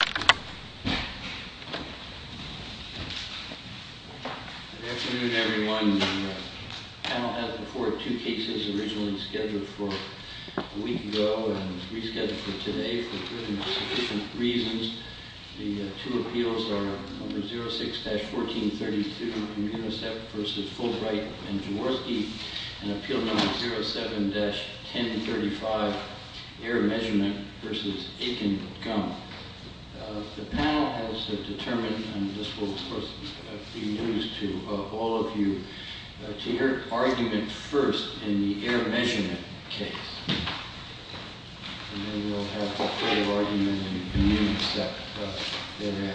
06-1432 Municep v. Fulbright v. Jaworski 07-1035 Air Measurement v. Akin Gump The panel has determined, and this will of course be news to all of you, to hear argument first in the air measurement case. And then we'll have the full argument in Municep thereafter.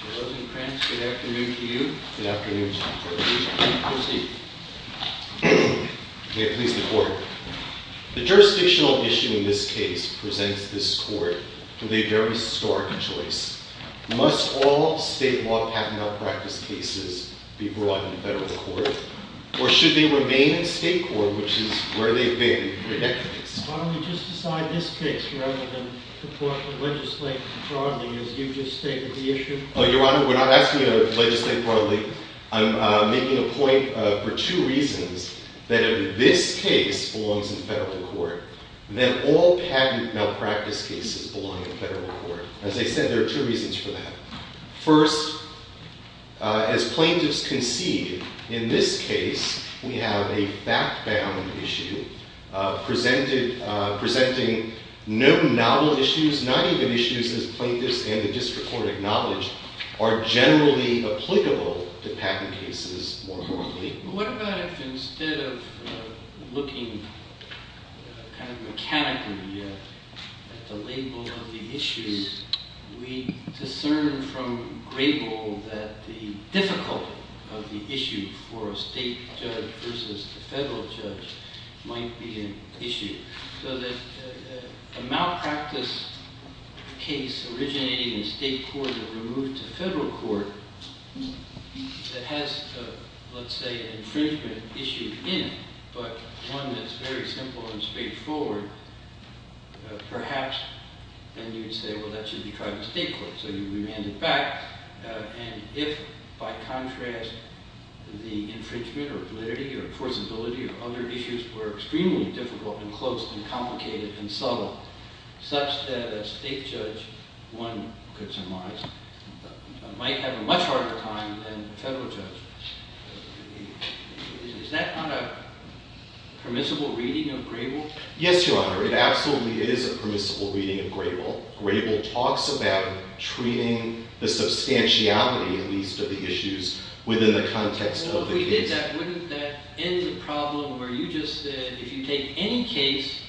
Mr. Rosencrantz, good afternoon to you. Good afternoon to you, too. Proceed. May it please the court. The jurisdictional issue in this case presents this court with a very stark choice. Must all state law patent malpractice cases be brought into federal court, or should they remain in state court, which is where they've been for decades? Why don't we just decide this case rather than the court would legislate broadly as you've just stated the issue? Your Honor, we're not asking you to legislate broadly. I'm making a point for two reasons. That if this case belongs in federal court, then all patent malpractice cases belong in federal court. As I said, there are two reasons for that. First, as plaintiffs concede in this case, we have a fact-bound issue presenting no novel issues, not even issues as plaintiffs and the district court acknowledge are generally applicable to patent cases more broadly. What about if instead of looking kind of mechanically at the label of the issues, we discern from Grebel that the difficulty of the issue for a state judge versus a federal judge might be an issue? So that a malpractice case originating in state court and removed to federal court that has, let's say, an infringement issue in it, but one that's very simple and straightforward, perhaps then you'd say, well, that should be tried in state court. So you'd remand it back. And if, by contrast, the infringement or validity or forcibility or other issues were extremely difficult and close and complicated and subtle, such that a state judge, one could surmise, might have a much harder time than a federal judge. Is that not a permissible reading of Grebel? Yes, Your Honor. It absolutely is a permissible reading of Grebel. Grebel talks about treating the substantiality, at least, of the issues within the context of the case. Well, if we did that, wouldn't that end the problem where you just said if you take any case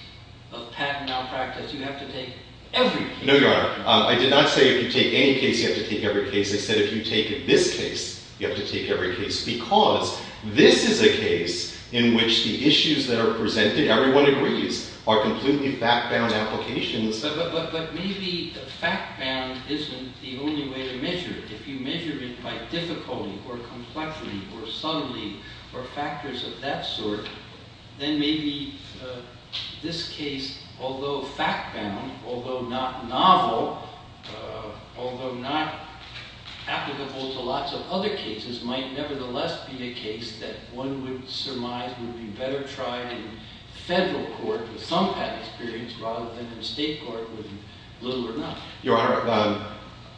of patent malpractice, you have to take every case? No, Your Honor. I did not say if you take any case, you have to take every case. I said if you take this case, you have to take every case. Because this is a case in which the issues that are presented, everyone agrees, are completely back-bound applications. But maybe fact-bound isn't the only way to measure it. If you measure it by difficulty or complexity or subtlety or factors of that sort, then maybe this case, although fact-bound, although not novel, although not applicable to lots of other cases, might nevertheless be a case that one would surmise would be better tried in federal court with some patent experience rather than in state court with little or nothing. Your Honor,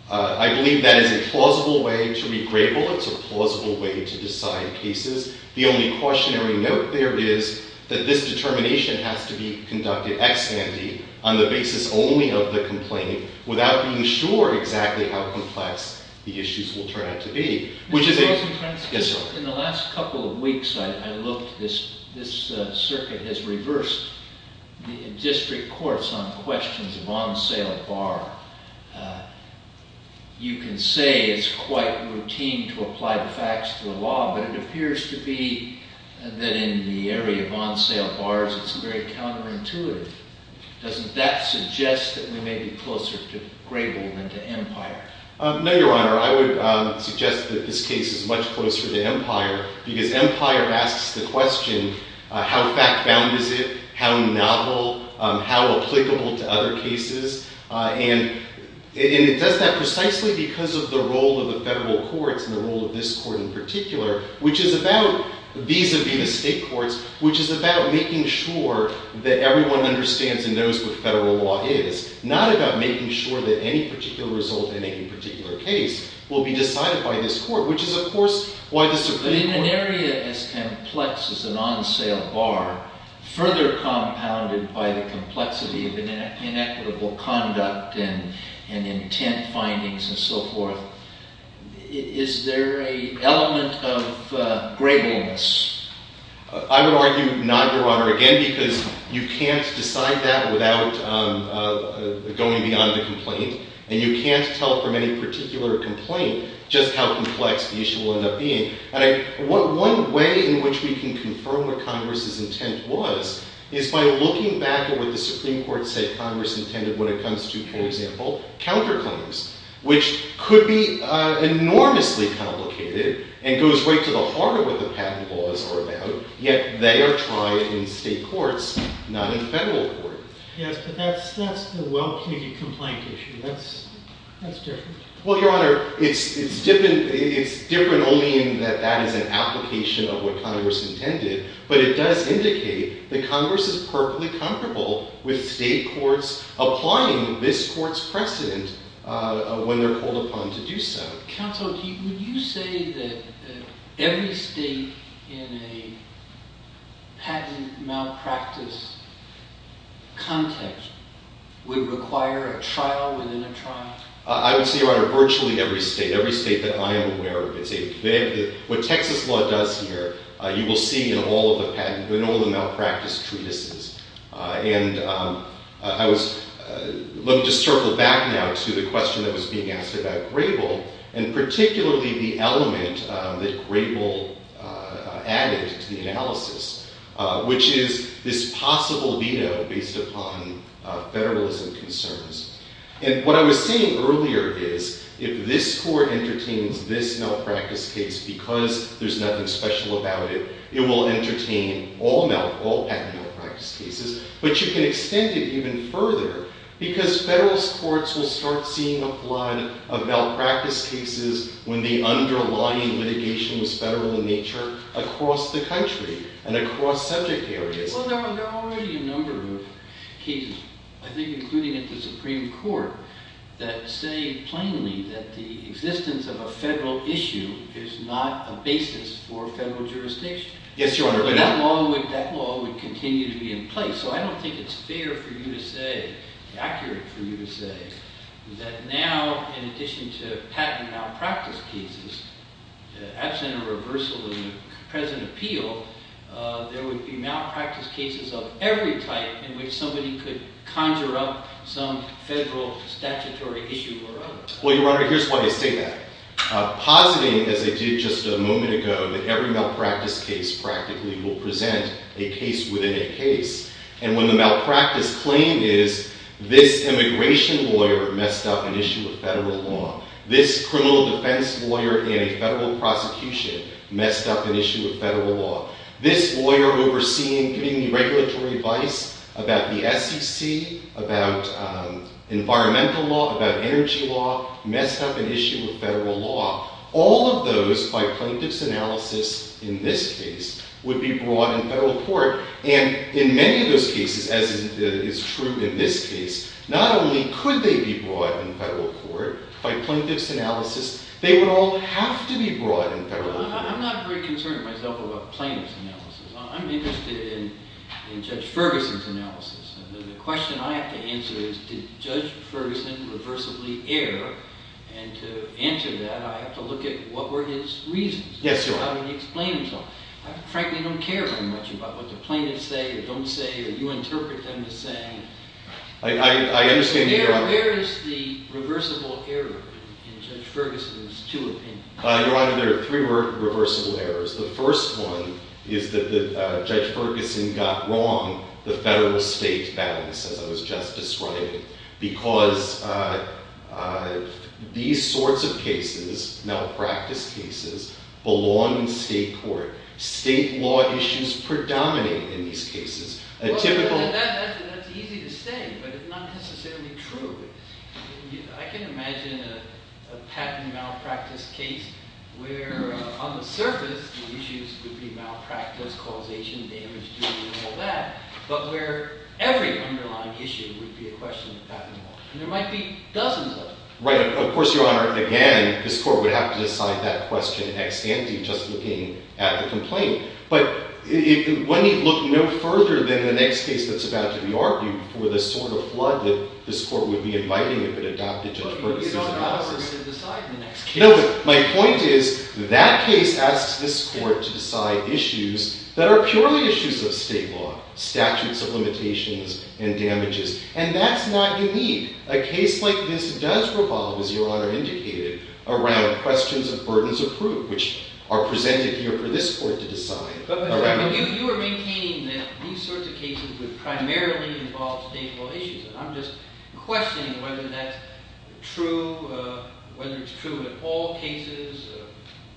I believe that is a plausible way to read Grebel. It's a plausible way to decide cases. The only cautionary note there is that this determination has to be conducted ex-sandi on the basis only of the complaint without being sure exactly how complex the issues will turn out to be. In the last couple of weeks, I looked. This circuit has reversed the district courts on questions of on-sale bar. You can say it's quite routine to apply the facts to the law, but it appears to be that in the area of on-sale bars, it's very counterintuitive. Doesn't that suggest that we may be closer to Grebel than to Empire? No, Your Honor. I would suggest that this case is much closer to Empire because Empire asks the question, how fact-bound is it? How novel? How applicable to other cases? And it does that precisely because of the role of the federal courts and the role of this court in particular, which is about vis-a-vis the state courts, which is about making sure that everyone understands and knows what federal law is, not about making sure that any particular result in any particular case will be decided by this court, which is, of course, why the circuit worked. But in an area as complex as an on-sale bar, further compounded by the complexity of inequitable conduct and intent findings and so forth, is there an element of Grebel-ness? I would argue not, Your Honor, again, because you can't decide that without going beyond the complaint. And you can't tell from any particular complaint just how complex the issue will end up being. One way in which we can confirm what Congress's intent was is by looking back at what the Supreme Court said Congress intended when it comes to, for example, counterclaims, which could be enormously complicated and goes right to the heart of what the patent laws are about, yet they are tried in state courts, not in federal court. Yes, but that's the well-plated complaint issue. That's different. Well, Your Honor, it's different only in that that is an application of what Congress intended, but it does indicate that Congress is perfectly comfortable with state courts applying this court's precedent when they're called upon to do so. Counsel, would you say that every state in a patent malpractice context would require a trial within a trial? I would say, Your Honor, virtually every state, every state that I am aware of. What Texas law does here, you will see in all the patent, in all the malpractice treatises. And I was, let me just circle back now to the question that was being asked about Grebel, and particularly the element that Grebel added to the analysis, which is this possible veto based upon federalism concerns. And what I was saying earlier is, if this court entertains this malpractice case because there's nothing special about it, it will entertain all patent malpractice cases. But you can extend it even further because federal courts will start seeing a flood of malpractice cases when the underlying litigation was federal in nature across the country and across subject areas. Well, there are already a number of cases, I think including at the Supreme Court, that say plainly that the existence of a federal issue is not a basis for federal jurisdiction. Yes, Your Honor. But that law would continue to be in place. So I don't think it's fair for you to say, accurate for you to say, that now, in addition to patent malpractice cases, absent a reversal in the present appeal, there would be malpractice cases of every type in which somebody could conjure up some federal statutory issue or other. Well, Your Honor, here's why I say that. Positing, as I did just a moment ago, that every malpractice case practically will present a case within a case. And when the malpractice claim is, this immigration lawyer messed up an issue of federal law, this criminal defense lawyer in a federal prosecution messed up an issue of federal law, this lawyer overseeing giving me regulatory advice about the SEC, about environmental law, about energy law, messed up an issue of federal law. All of those, by plaintiff's analysis in this case, would be brought in federal court. And in many of those cases, as is true in this case, not only could they be brought in federal court, by plaintiff's analysis, they would all have to be brought in federal court. Well, I'm not very concerned, myself, about plaintiff's analysis. I'm interested in Judge Ferguson's analysis. The question I have to answer is, did Judge Ferguson reversibly err? And to answer that, I have to look at what were his reasons. Yes, Your Honor. How did he explain himself? I frankly don't care very much about what the plaintiffs say or don't say or you interpret them as saying. I understand, Your Honor. Where is the reversible error in Judge Ferguson's two opinions? Your Honor, there are three reversible errors. The first one is that Judge Ferguson got wrong the federal-state balance, as I was just describing, because these sorts of cases, malpractice cases, belong in state court. State law issues predominate in these cases. That's easy to say, but it's not necessarily true. I can imagine a patent malpractice case where, on the surface, the issues would be malpractice, causation, damage due, and all that, but where every underlying issue would be a question of patent law. And there might be dozens of them. Right. Of course, Your Honor, again, this court would have to decide that question ex ante, just looking at the complaint. But one need look no further than the next case that's about to be argued for the sort of flood that this court would be inviting if it adopted Judge Ferguson's analysis. But Your Honor, I'm not going to decide the next case. No, but my point is that case asks this court to decide issues that are purely issues of state law, statutes of limitations and damages, and that's not unique. A case like this does revolve, as Your Honor indicated, around questions of burdens of proof, which are presented here for this court to decide. But you were maintaining that these sorts of cases would primarily involve state law issues, and I'm just questioning whether that's true, whether it's true in all cases,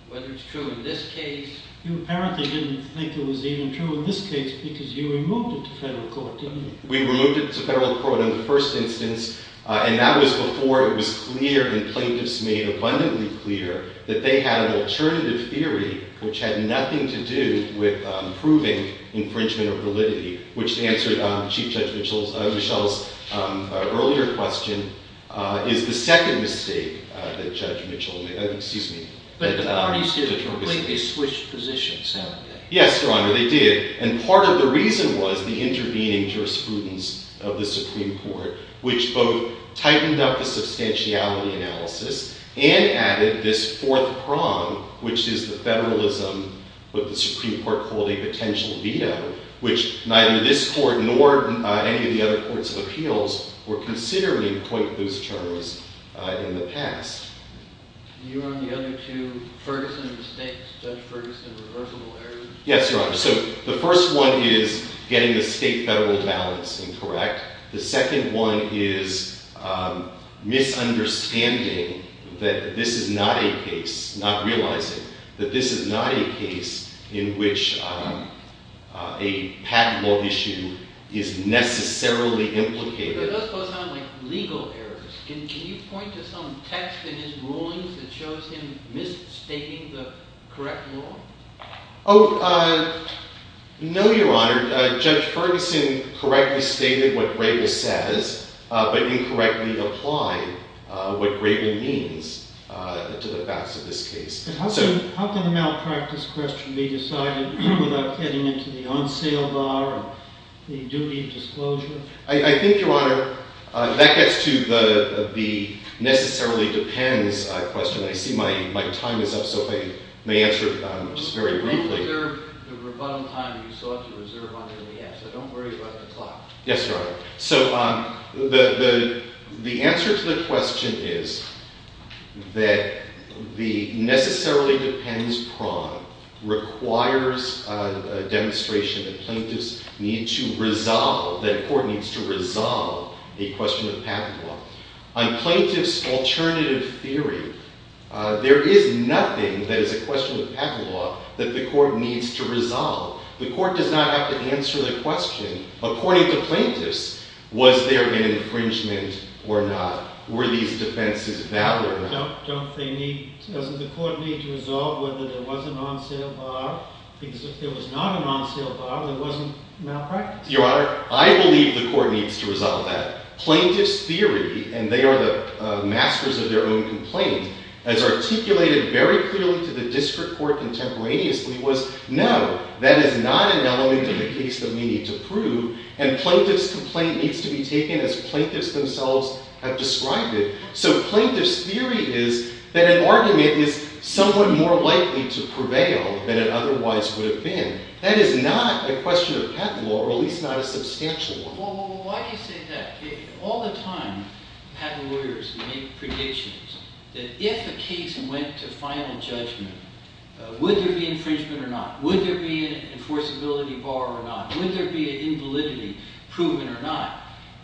whether it's true in this case. You apparently didn't think it was even true in this case, because you removed it to federal court, didn't you? We removed it to federal court in the first instance, and that was before it was clear and plaintiffs made abundantly clear that they had an alternative theory which had nothing to do with proving infringement of validity, which answered Chief Judge Mitchell's earlier question, is the second mistake that Judge Mitchell made. But the parties here completely switched positions, haven't they? Yes, Your Honor, they did, and part of the reason was the intervening jurisprudence of the Supreme Court, which both tightened up the substantiality analysis and added this fourth prong, which is the federalism, what the Supreme Court called a potential veto, which neither this court nor any of the other courts of appeals were considering quite those terms in the past. You were on the other two Ferguson mistakes, Judge Ferguson reversible errors. Yes, Your Honor. So the first one is getting the state-federal balance incorrect. The second one is misunderstanding that this is not a case, not realizing that this is not a case in which a patent law issue is necessarily implicated. But those both sound like legal errors. Can you point to some text in his rulings that shows him misstating the correct law? Oh, no, Your Honor. Judge Ferguson correctly stated what Rabin says, but incorrectly applied what Rabin means to the facts of this case. How can a malpractice question be decided without getting into the on-sale bar and the duty of disclosure? I think, Your Honor, that gets to the necessarily depends question. I see my time is up, so if I may answer just very briefly. You don't reserve the rebuttal time you sought to reserve on MDS. So don't worry about the clock. Yes, Your Honor. So the answer to the question is that the necessarily depends prong requires a demonstration that plaintiffs need to resolve, that a court needs to resolve a question of patent law. On plaintiffs' alternative theory, there is nothing that is a question of patent law that the court needs to resolve. The court does not have to answer the question, according to plaintiffs, was there an infringement or not? Were these defenses valid or not? Doesn't the court need to resolve whether there was an on-sale bar? Because if there was not an on-sale bar, there wasn't malpractice. Your Honor, I believe the court needs to resolve that. Plaintiffs' theory, and they are the masters of their own complaint, as articulated very clearly to the district court contemporaneously was, no, that is not an element of the case that we need to prove. And plaintiffs' complaint needs to be taken as plaintiffs themselves have described it. So plaintiffs' theory is that an argument is somewhat more likely to prevail than it otherwise would have been. That is not a question of patent law, or at least not a substantial one. Well, why do you say that? All the time, patent lawyers make predictions that if a case went to final judgment, would there be infringement or not? Would there be an enforceability bar or not? Would there be an invalidity proven or not?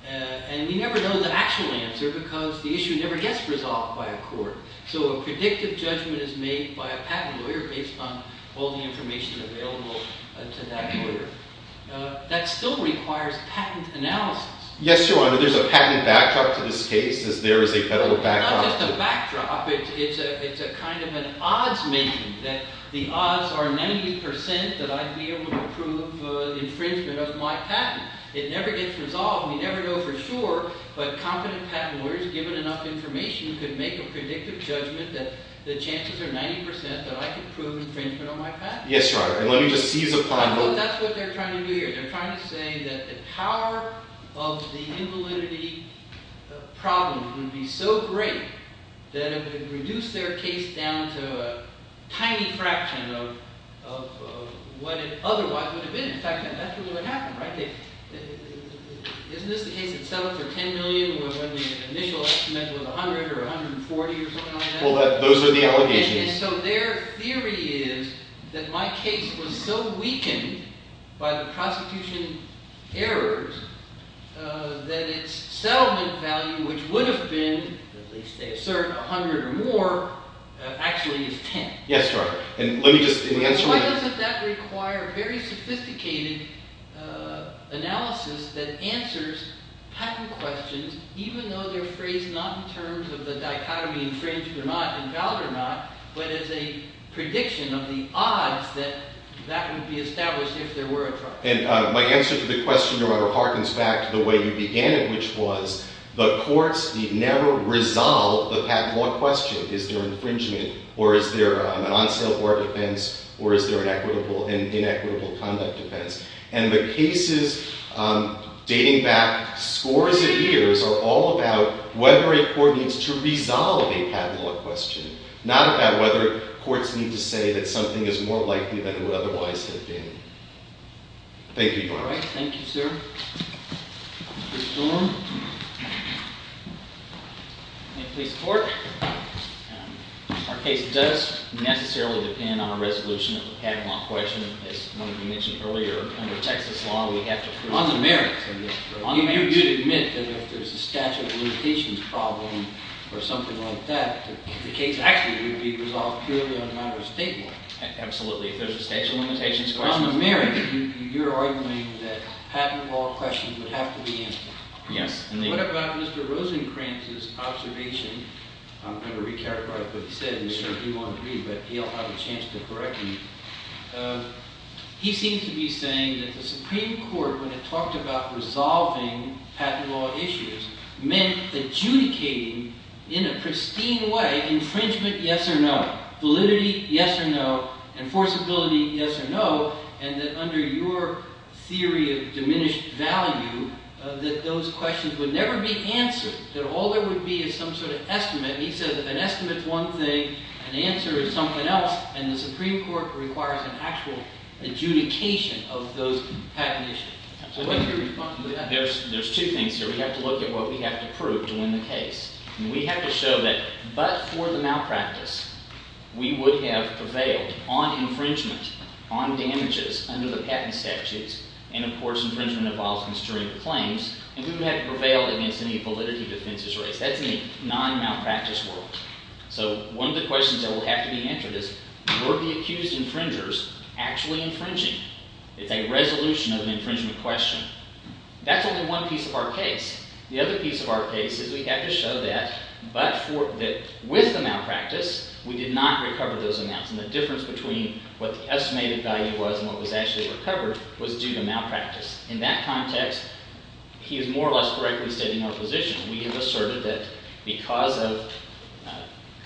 And we never know the actual answer because the issue never gets resolved by a court. So a predictive judgment is made by a patent lawyer based on all the information available to that lawyer. That still requires patent analysis. Yes, Your Honor. There's a patent backdrop to this case, as there is a federal backdrop to it. It's not just a backdrop. It's a kind of an odds-making, that the odds are 90% that I'd be able to prove infringement of my patent. It never gets resolved. We never know for sure. But competent patent lawyers, given enough information, could make a predictive judgment that the chances are 90% that I could prove infringement on my patent. Yes, Your Honor. And let me just seize upon both. That's what they're trying to do here. They're trying to say that the power of the invalidity problem would be so great that it would reduce their case down to a tiny fraction of what it otherwise would have been. In fact, that's exactly what happened, right? Isn't this the case that settled for $10 million when the initial estimate was $100 or $140 or something like that? Well, those are the allegations. And so their theory is that my case was so weakened by the prosecution errors that its settlement value, which would have been, at least they assert, $100 or more, actually is $10. Yes, Your Honor. And let me just answer my question. But it's a prediction of the odds that that would be established if there were a trial. And my answer to the question, Your Honor, harkens back to the way you began it, which was the courts never resolve the patent law question. Is there infringement? Or is there an on-sale court defense? Or is there an equitable and inequitable conduct defense? And the cases dating back scores of years are all about whether a court needs to resolve a patent law question, not about whether courts need to say that something is more likely than it would otherwise have been. Thank you, Your Honor. All right. Thank you, sir. Mr. Storm? May it please the Court? Our case does necessarily depend on a resolution of the patent law question. As one of you mentioned earlier, under Texas law, we have to prove it. On the merits of this. On the merits. You admit that if there's a statute of limitations problem or something like that, the case actually would be resolved purely on a matter of state law. Absolutely. If there's a statute of limitations question. On the merits, you're arguing that patent law questions would have to be answered. Yes. And what about Mr. Rosenkranz's observation? I'm going to re-characterize what he said. I'm sure he won't agree, but he'll have a chance to correct me. He seems to be saying that the Supreme Court, when it talked about resolving patent law issues, meant adjudicating in a pristine way infringement, yes or no. Validity, yes or no. Enforceability, yes or no. And that under your theory of diminished value, that those questions would never be answered. That all there would be is some sort of estimate. And he said that an estimate is one thing, an answer is something else, and the Supreme Court requires an actual adjudication of those patent issues. Absolutely. There's two things here. We have to look at what we have to prove to win the case. And we have to show that but for the malpractice, we would have prevailed on infringement, on damages under the patent statutes. And, of course, infringement involves constrained claims, and we would have prevailed against any validity defenses raised. That's in a non-malpractice world. So one of the questions that will have to be answered is were the accused infringers actually infringing? It's a resolution of an infringement question. That's only one piece of our case. The other piece of our case is we have to show that with the malpractice, we did not recover those amounts. And the difference between what the estimated value was and what was actually recovered was due to malpractice. In that context, he is more or less correctly stating our position. We have asserted that because of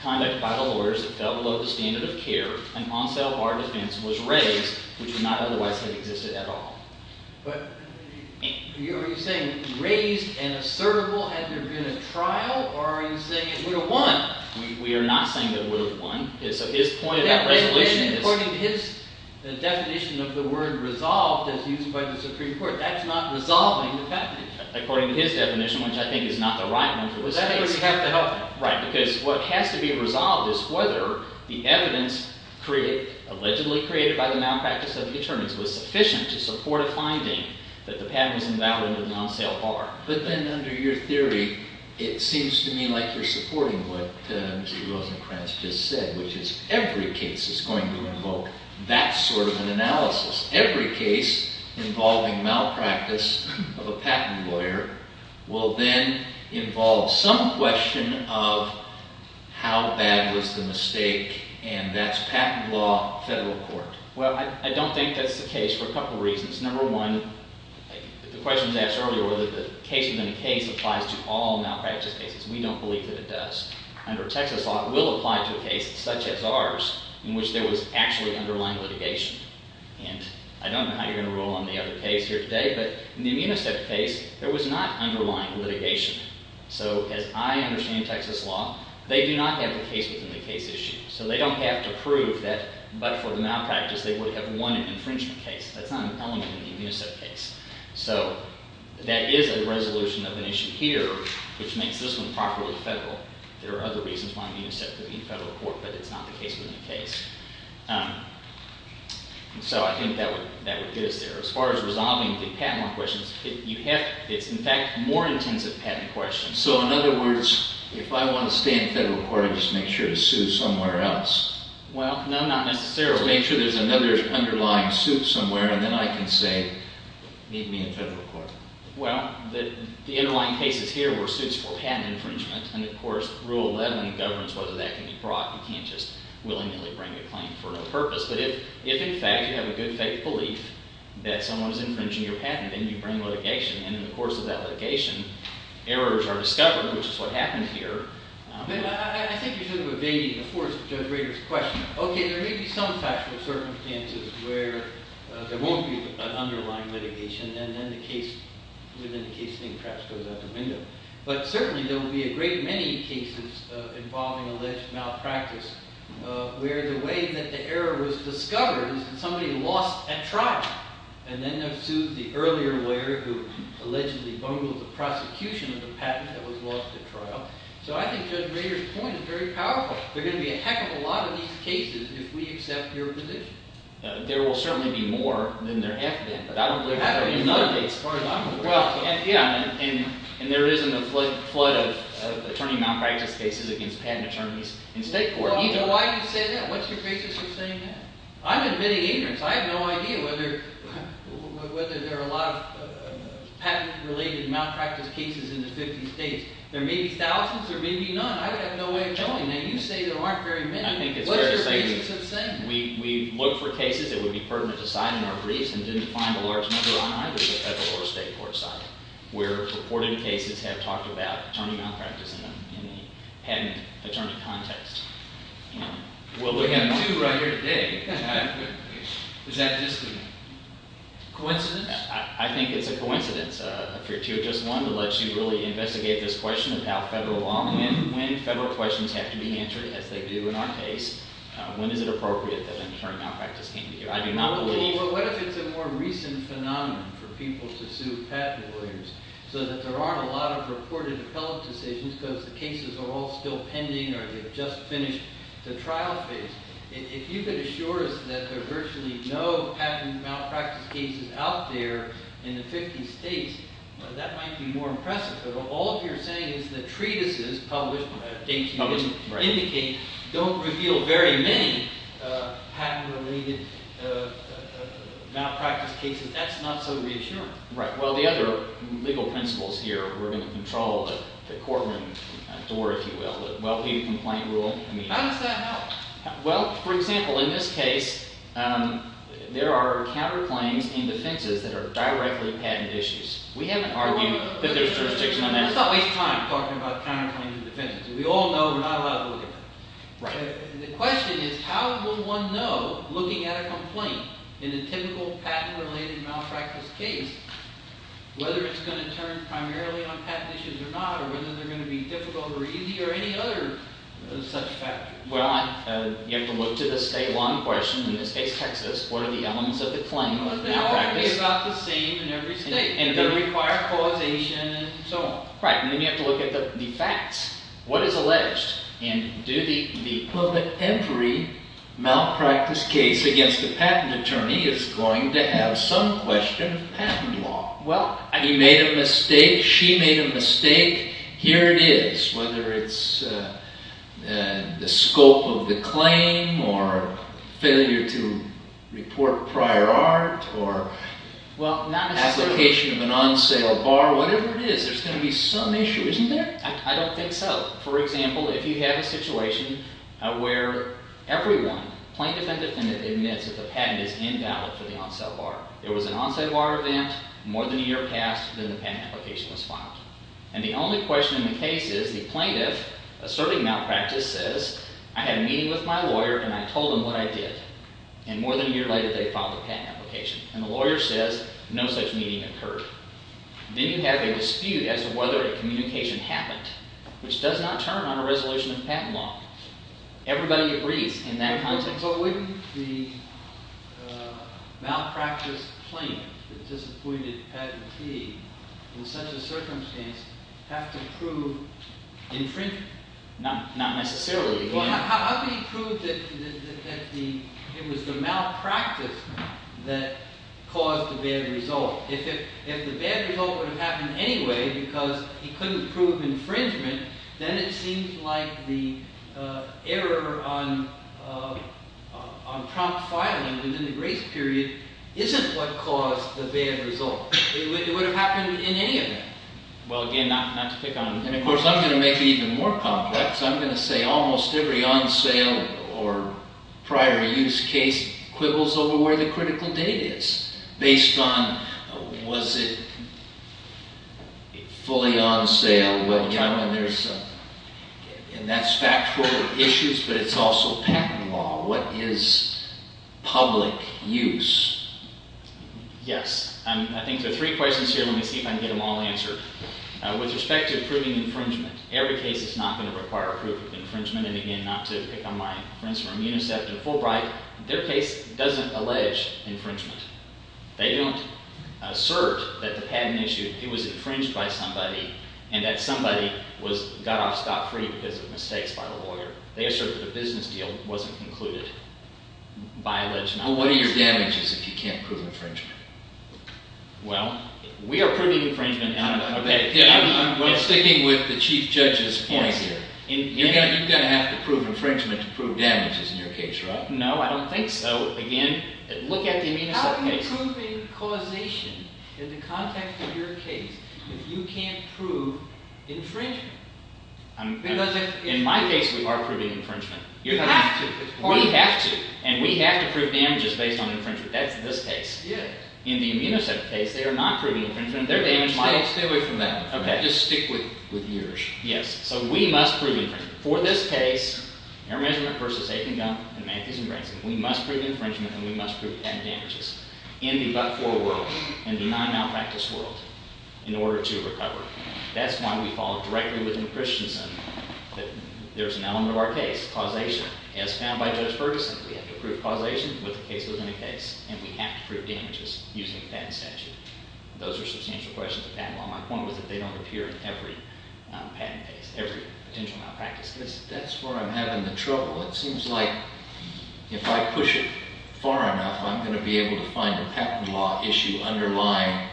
conduct by the lawyers that fell below the standard of care, an on sale of our defense was raised, which would not otherwise have existed at all. But are you saying raised and assertable? Had there been a trial? Or are you saying it would have won? We are not saying that it would have won. So his point of that resolution is— According to his definition of the word resolved, as used by the Supreme Court, that's not resolving the patent. According to his definition, which I think is not the right one for this case— Well, that's where you have to help him. Right, because what has to be resolved is whether the evidence allegedly created by the malpractice of the attorneys was sufficient to support a finding that the patent was invalid under the non-sale bar. But then under your theory, it seems to me like you're supporting what Mr. Rosenkranz just said, which is every case is going to invoke that sort of an analysis. Every case involving malpractice of a patent lawyer will then involve some question of how bad was the mistake, and that's patent law, federal court. Well, I don't think that's the case for a couple of reasons. Number one, the question was asked earlier whether the case within a case applies to all malpractice cases. We don't believe that it does. Under Texas law, it will apply to a case such as ours in which there was actually underlying litigation. And I don't know how you're going to rule on the other case here today, but in the Immunicept case, there was not underlying litigation. So as I understand Texas law, they do not have the case within the case issue. So they don't have to prove that, but for the malpractice, they would have won an infringement case. That's not an element in the Immunicept case. So that is a resolution of an issue here, which makes this one properly federal. There are other reasons why Immunicept could be federal court, but it's not the case within the case. So I think that would get us there. As far as resolving the patent law questions, it's in fact more intensive patent questions. So in other words, if I want to stay in federal court, I just make sure to sue somewhere else? Well, no, not necessarily. Make sure there's another underlying suit somewhere, and then I can say, meet me in federal court. Well, the underlying cases here were suits for patent infringement. You can't just willingly bring a claim for no purpose. But if in fact you have a good faith belief that someone is infringing your patent, then you bring litigation. And in the course of that litigation, errors are discovered, which is what happened here. I think you should have evaded the force of Judge Rader's question. Okay, there may be some factual circumstances where there won't be an underlying litigation, and then the case within the case thing perhaps goes out the window. But certainly there will be a great many cases involving alleged malpractice, where the way that the error was discovered is that somebody lost at trial. And then they'll sue the earlier lawyer who allegedly bungled the prosecution of the patent that was lost at trial. So I think Judge Rader's point is very powerful. There are going to be a heck of a lot of these cases if we accept your position. There will certainly be more than there have been. Well, yeah, and there isn't a flood of attorney malpractice cases against patent attorneys in state court. Well, why do you say that? What's your basis for saying that? I'm admitting ignorance. I have no idea whether there are a lot of patent-related malpractice cases in the 50 states. There may be thousands. There may be none. I would have no way of knowing that. What's your basis of saying that? We look for cases that would be pertinent to cite in our briefs and didn't find a large number on either the federal or state court side, where reported cases have talked about attorney malpractice in a patent attorney context. We have two right here today. Is that just a coincidence? I think it's a coincidence, if you're two or just one, to let you really investigate this question of how federal law, when federal questions have to be answered, as they do in our case, when is it appropriate that an attorney malpractice came together. I do not believe... Well, what if it's a more recent phenomenon for people to sue patent lawyers so that there aren't a lot of reported appellate decisions because the cases are all still pending or they've just finished the trial phase? If you could assure us that there are virtually no patent malpractice cases out there in the 50 states, that might be more impressive. But all you're saying is that treatises published, I think you would indicate, don't reveal very many patent-related malpractice cases. That's not so reassuring. Right. Well, the other legal principles here, we're going to control the courtroom door, if you will, the well-paid complaint rule. How does that help? Well, for example, in this case, there are counterclaims and defenses that are directly patent issues. We haven't argued that there's jurisdiction on that. Let's not waste time talking about counterclaims and defenses. We all know we're not allowed to look at that. Right. The question is how will one know, looking at a complaint in a typical patent-related malpractice case, whether it's going to turn primarily on patent issues or not or whether they're going to be difficult or easy or any other such factors. Well, you have to look to the state law in question. In this case, Texas, what are the elements of the claim of malpractice? It's going to be about the same in every state. It's going to require causation and so on. Right. And then you have to look at the facts, what is alleged, and do the equivalent. Well, every malpractice case against a patent attorney is going to have some question of patent law. Well, he made a mistake, she made a mistake, here it is, whether it's the scope of the claim or failure to report prior art or application of an on-sale bar, whatever it is, there's going to be some issue, isn't there? I don't think so. For example, if you have a situation where everyone, plaintiff and defendant, admits that the patent is invalid for the on-sale bar, there was an on-sale bar event more than a year past, then the patent application was filed. And the only question in the case is the plaintiff asserting malpractice says, I had a meeting with my lawyer and I told him what I did. And more than a year later they filed a patent application. And the lawyer says, no such meeting occurred. Then you have a dispute as to whether a communication happened, which does not turn on a resolution of patent law. Everybody agrees in that context. But wouldn't the malpractice claim, the disappointed patentee, in such a circumstance, have to prove infringement? Not necessarily. How can he prove that it was the malpractice that caused the bad result? If the bad result would have happened anyway because he couldn't prove infringement, then it seems like the error on Trump filing within the grace period isn't what caused the bad result. It would have happened in any event. Well, again, not to pick on him. And, of course, I'm going to make it even more complex. I'm going to say almost every on-sale or prior-use case quibbles over where the critical date is based on was it fully on-sale. And that's factual issues, but it's also patent law. What is public use? Yes. I think there are three questions here. Let me see if I can get them all answered. With respect to proving infringement, every case is not going to require proof of infringement. And, again, not to pick on my friends from UNICEF and Fulbright, their case doesn't allege infringement. They don't assert that the patent issue, it was infringed by somebody and that somebody got off scot-free because of mistakes by the lawyer. They assert that a business deal wasn't concluded by alleged malpractice. Well, what are your damages if you can't prove infringement? Well, we are proving infringement. I'm sticking with the chief judge's point here. You're going to have to prove infringement to prove damages in your case, right? No, I don't think so. Again, look at the UNICEF case. How are you proving causation in the context of your case if you can't prove infringement? In my case, we are proving infringement. You have to. We have to. And we have to prove damages based on infringement. That's this case. In the UNICEF case, they are not proving infringement. They're damage models. Stay away from that. Just stick with yours. Yes. So we must prove infringement. For this case, Air Measurement v. Aiken Gump and Matthews & Branson, we must prove infringement and we must prove patent damages in the but-for world and the non-malpractice world in order to recover. That's why we follow directly within Christensen that there's an element of our case, causation, as found by Judge Ferguson. We have to prove causation with a case within a case, and we have to prove damages using a patent statute. Those are substantial questions of patent law. My point was that they don't appear in every patent case, every potential malpractice case. That's where I'm having the trouble. It seems like if I push it far enough, I'm going to be able to find a patent law issue underlying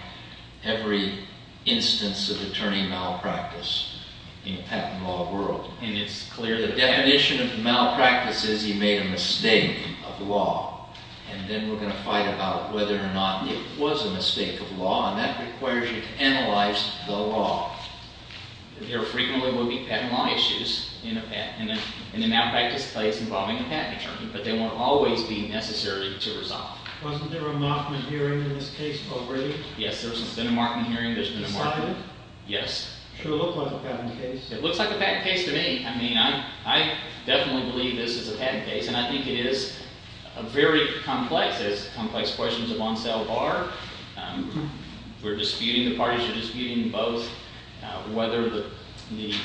every instance of attorney malpractice in the patent law world. And it's clear the definition of malpractice is you made a mistake of the law, and then we're going to fight about whether or not it was a mistake of the law, and that requires you to analyze the law. There frequently will be patent law issues in a malpractice case involving a patent attorney, but they won't always be necessary to resolve. Wasn't there a Markman hearing in this case, Bo Brady? Yes, there's been a Markman hearing. Decided? Yes. Should it look like a patent case? It looks like a patent case to me. I mean, I definitely believe this is a patent case, and I think it is very complex. It has complex questions of on-sale bar. We're disputing, the parties are disputing both whether the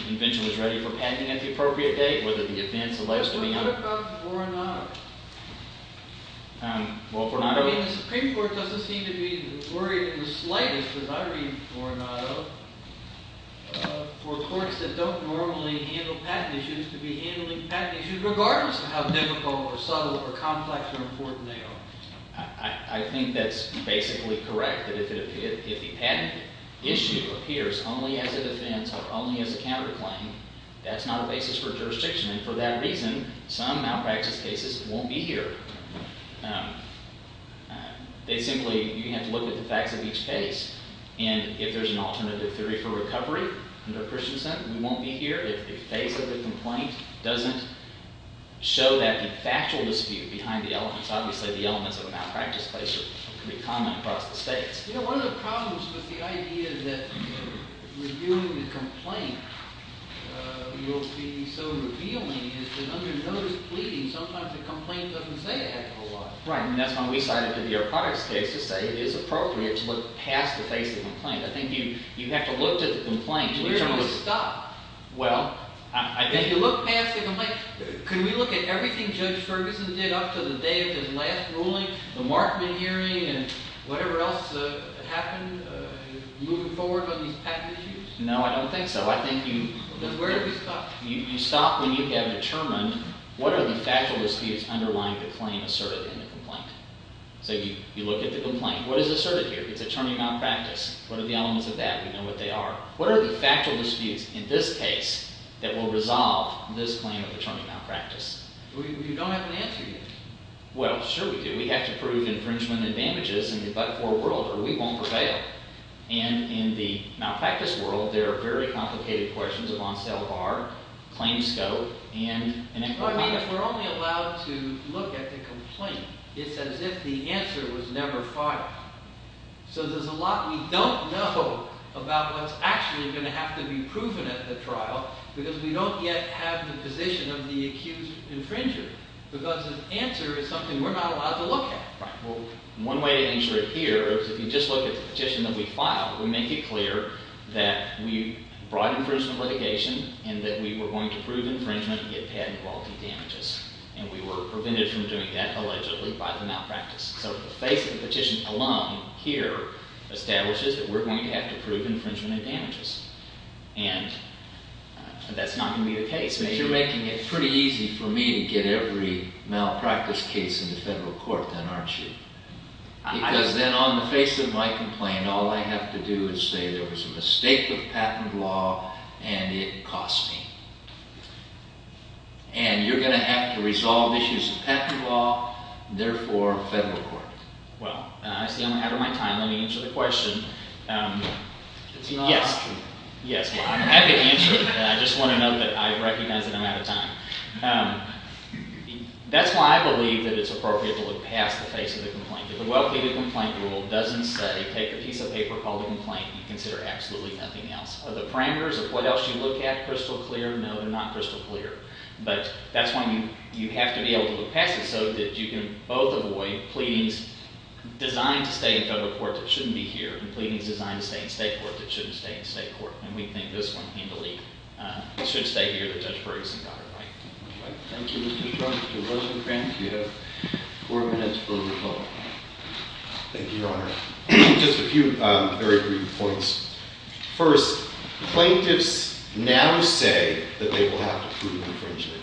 invention was ready for patenting at the appropriate date, whether the defense allows it to be done. But what about Fornado? Well, Fornado— I mean, the Supreme Court doesn't seem to be worried in the slightest, because I read Fornado, for courts that don't normally handle patent issues to be handling patent issues regardless of how difficult or subtle or complex or important they are. I think that's basically correct, that if the patent issue appears only as a defense or only as a counterclaim, that's not a basis for jurisdiction. And for that reason, some malpractice cases won't be here. They simply—you have to look at the facts of each case. And if there's an alternative theory for recovery under Christian sentence, we won't be here if the face of the complaint doesn't show that the factual dispute behind the elements— obviously, the elements of a malpractice case are pretty common across the states. You know, one of the problems with the idea that reviewing the complaint will be so revealing is that under notice pleading, sometimes the complaint doesn't say a heck of a lot. Right, and that's why we cited the Bureau of Products case to say it is appropriate to look past the face of the complaint. I think you have to look to the complaint to determine— Where do we stop? Well, I think— If you look past the complaint, can we look at everything Judge Ferguson did up to the day of his last ruling, the Markman hearing, and whatever else happened moving forward on these patent issues? No, I don't think so. I think you— Where do we stop? You stop when you have determined what are the factual disputes underlying the claim asserted in the complaint. So you look at the complaint. What is asserted here? It's attorney malpractice. What are the elements of that? We know what they are. What are the factual disputes in this case that will resolve this claim of attorney malpractice? We don't have an answer yet. Well, sure we do. We have to prove infringement and damages in the but-for world or we won't prevail. And in the malpractice world, there are very complicated questions of on-sale bar, claim scope, and— But I mean, if we're only allowed to look at the complaint, it's as if the answer was never filed. So there's a lot we don't know about what's actually going to have to be proven at the trial because we don't yet have the position of the accused infringer because the answer is something we're not allowed to look at. Right. Well, one way to answer it here is if you just look at the petition that we filed, we make it clear that we brought infringement litigation and that we were going to prove infringement and get patent quality damages. And we were prevented from doing that, allegedly, by the malpractice. So the face of the petition alone here establishes that we're going to have to prove infringement and damages. And that's not going to be the case. But you're making it pretty easy for me to get every malpractice case into federal court then, aren't you? Because then on the face of my complaint, all I have to do is say there was a mistake with patent law and it cost me. And you're going to have to resolve issues of patent law, therefore, federal court. Well, I see I'm out of my time. Let me answer the question. Yes. Yes. Well, I'm happy to answer it. I just want to note that I recognize that I'm out of time. That's why I believe that it's appropriate to look past the face of the complaint. If a well-plated complaint rule doesn't say, take a piece of paper, call the complaint, you consider absolutely nothing else. Are the parameters of what else you look at crystal clear? No, they're not crystal clear. But that's why you have to be able to look past it so that you can both avoid pleadings designed to stay in federal court that shouldn't be here and pleadings designed to stay in state court that shouldn't stay in state court. And we think this one handily should stay here that Judge Ferguson got it right. Thank you. Thank you, Judge. Thank you, Your Honor. Just a few very brief points. First, plaintiffs now say that they will have to prove infringement.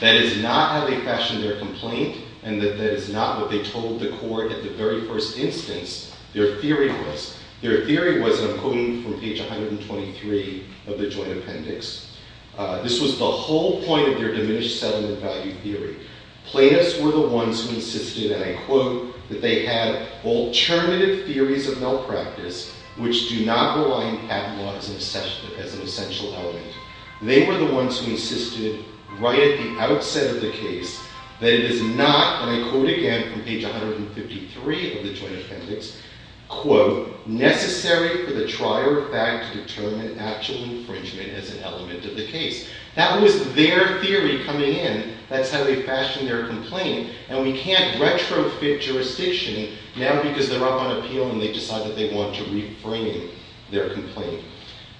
That is not how they fashioned their complaint, and that that is not what they told the court at the very first instance. Their theory was, their theory was, and I'm quoting from page 123 of the joint appendix, this was the whole point of their diminished settlement value theory. Plaintiffs were the ones who insisted, and I quote, that they had alternative theories of malpractice which do not rely on patent law as an essential element. They were the ones who insisted right at the outset of the case that it is not, and I quote again from page 153 of the joint appendix, quote, necessary for the trier of fact to determine actual infringement as an element of the case. That was their theory coming in. That's how they fashioned their complaint. And we can't retrofit jurisdiction now because they're up on appeal and they decide that they want to reframe their complaint.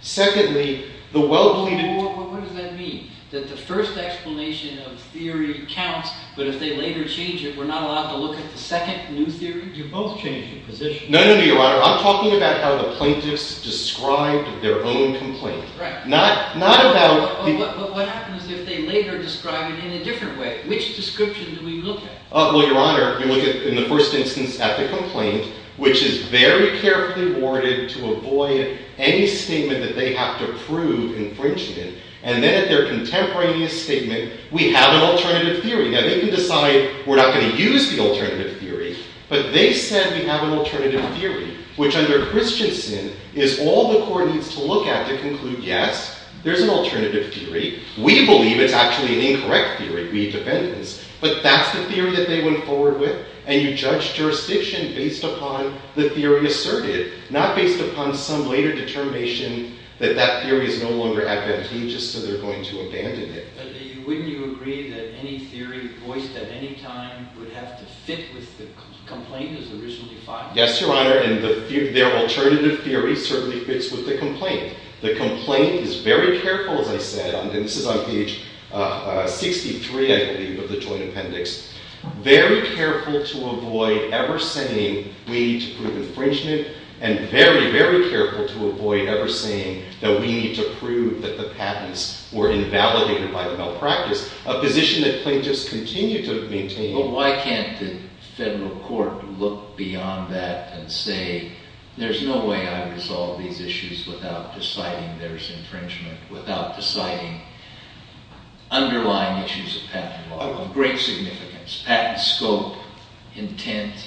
Secondly, the well-pleaded... What does that mean? That the first explanation of theory counts, but if they later change it, we're not allowed to look at the second new theory? You both changed your positions. No, no, no, Your Honor. I'm talking about how the plaintiffs described their own complaint. Right. Not, not about... But what happens if they later describe it in a different way? Which description do we look at? Well, Your Honor, you look at, in the first instance, at the complaint, which is very carefully worded to avoid any statement that they have to prove infringement, and then at their contemporaneous statement, we have an alternative theory. Now, they can decide we're not going to use the alternative theory, but they said we have an alternative theory, which under Christiansen is all the court needs to look at to conclude, yes, there's an alternative theory. We believe it's actually an incorrect theory. We defend this. But that's the theory that they went forward with, and you judge jurisdiction based upon the theory asserted, not based upon some later determination that that theory is no longer advantageous, so they're going to abandon it. But wouldn't you agree that any theory voiced at any time would have to fit with the complaint that was originally filed? Yes, Your Honor, and their alternative theory certainly fits with the complaint. The complaint is very careful, as I said, and this is on page 63, I believe, of the Joint Appendix, very careful to avoid ever saying we need to prove infringement and very, very careful to avoid ever saying that we need to prove that the patents were invalidated by the malpractice, a position that plaintiffs continue to maintain. But why can't the federal court look beyond that and say, there's no way I would resolve these issues without deciding there's infringement, without deciding underlying issues of patent law of great significance, patent scope, intent?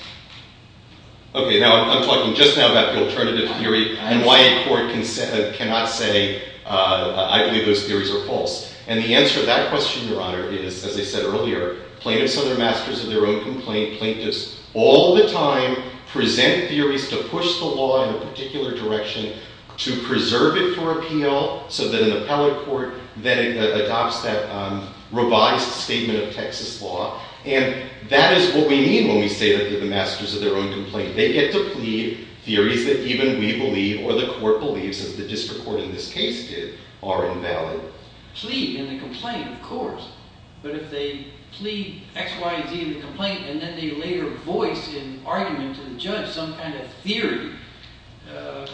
Okay, now I'm talking just now about the alternative theory and why a court cannot say, I believe those theories are false. And the answer to that question, Your Honor, is, as I said earlier, plaintiffs are the masters of their own complaint. Plaintiffs all the time present theories to push the law in a particular direction to preserve it for appeal so that an appellate court then adopts that revised statement of Texas law. And that is what we mean when we say that they're the masters of their own complaint. They get to plead theories that even we believe or the court believes, as the district court in this case did, are invalid. But if they plead in the complaint, of course. But if they plead X, Y, Z in the complaint and then they later voice an argument to the judge, some kind of theory, it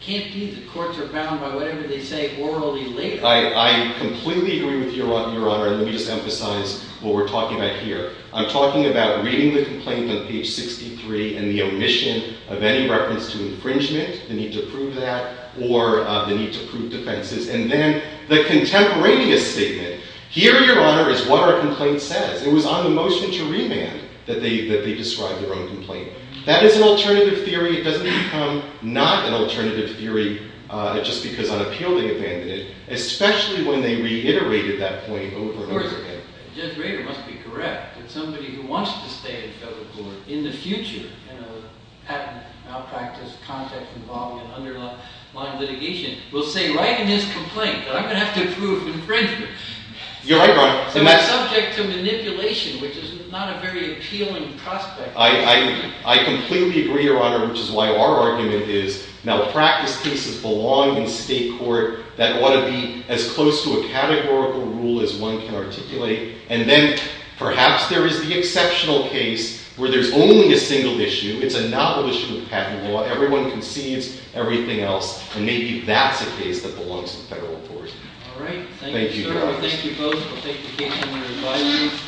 can't be that courts are bound by whatever they say orally later. I completely agree with you, Your Honor. And let me just emphasize what we're talking about here. I'm talking about reading the complaint on page 63 and the omission of any reference to infringement, the need to prove that, or the need to prove defenses. And then the contemporaneous statement. Here, Your Honor, is what our complaint says. It was on the motion to remand that they described their own complaint. That is an alternative theory. It doesn't become not an alternative theory just because on appeal they abandoned it, especially when they reiterated that point over and over again. Judge Rader must be correct that somebody who wants to stay in federal court in the future, in a patent malpractice context involving an underlying litigation, will say, write in this complaint, I'm going to have to prove infringement. You're right, Your Honor. It's subject to manipulation, which is not a very appealing prospect. I completely agree, Your Honor, which is why our argument is malpractice cases belong in state court that ought to be as close to a categorical rule as one can articulate. And then perhaps there is the exceptional case where there's only a single issue. It's a novel issue of patent law. Everyone concedes everything else, and maybe that's a case that belongs in federal court. All right. Thank you, sir. Thank you, Your Honor. Thank you both for taking the time to reply to me.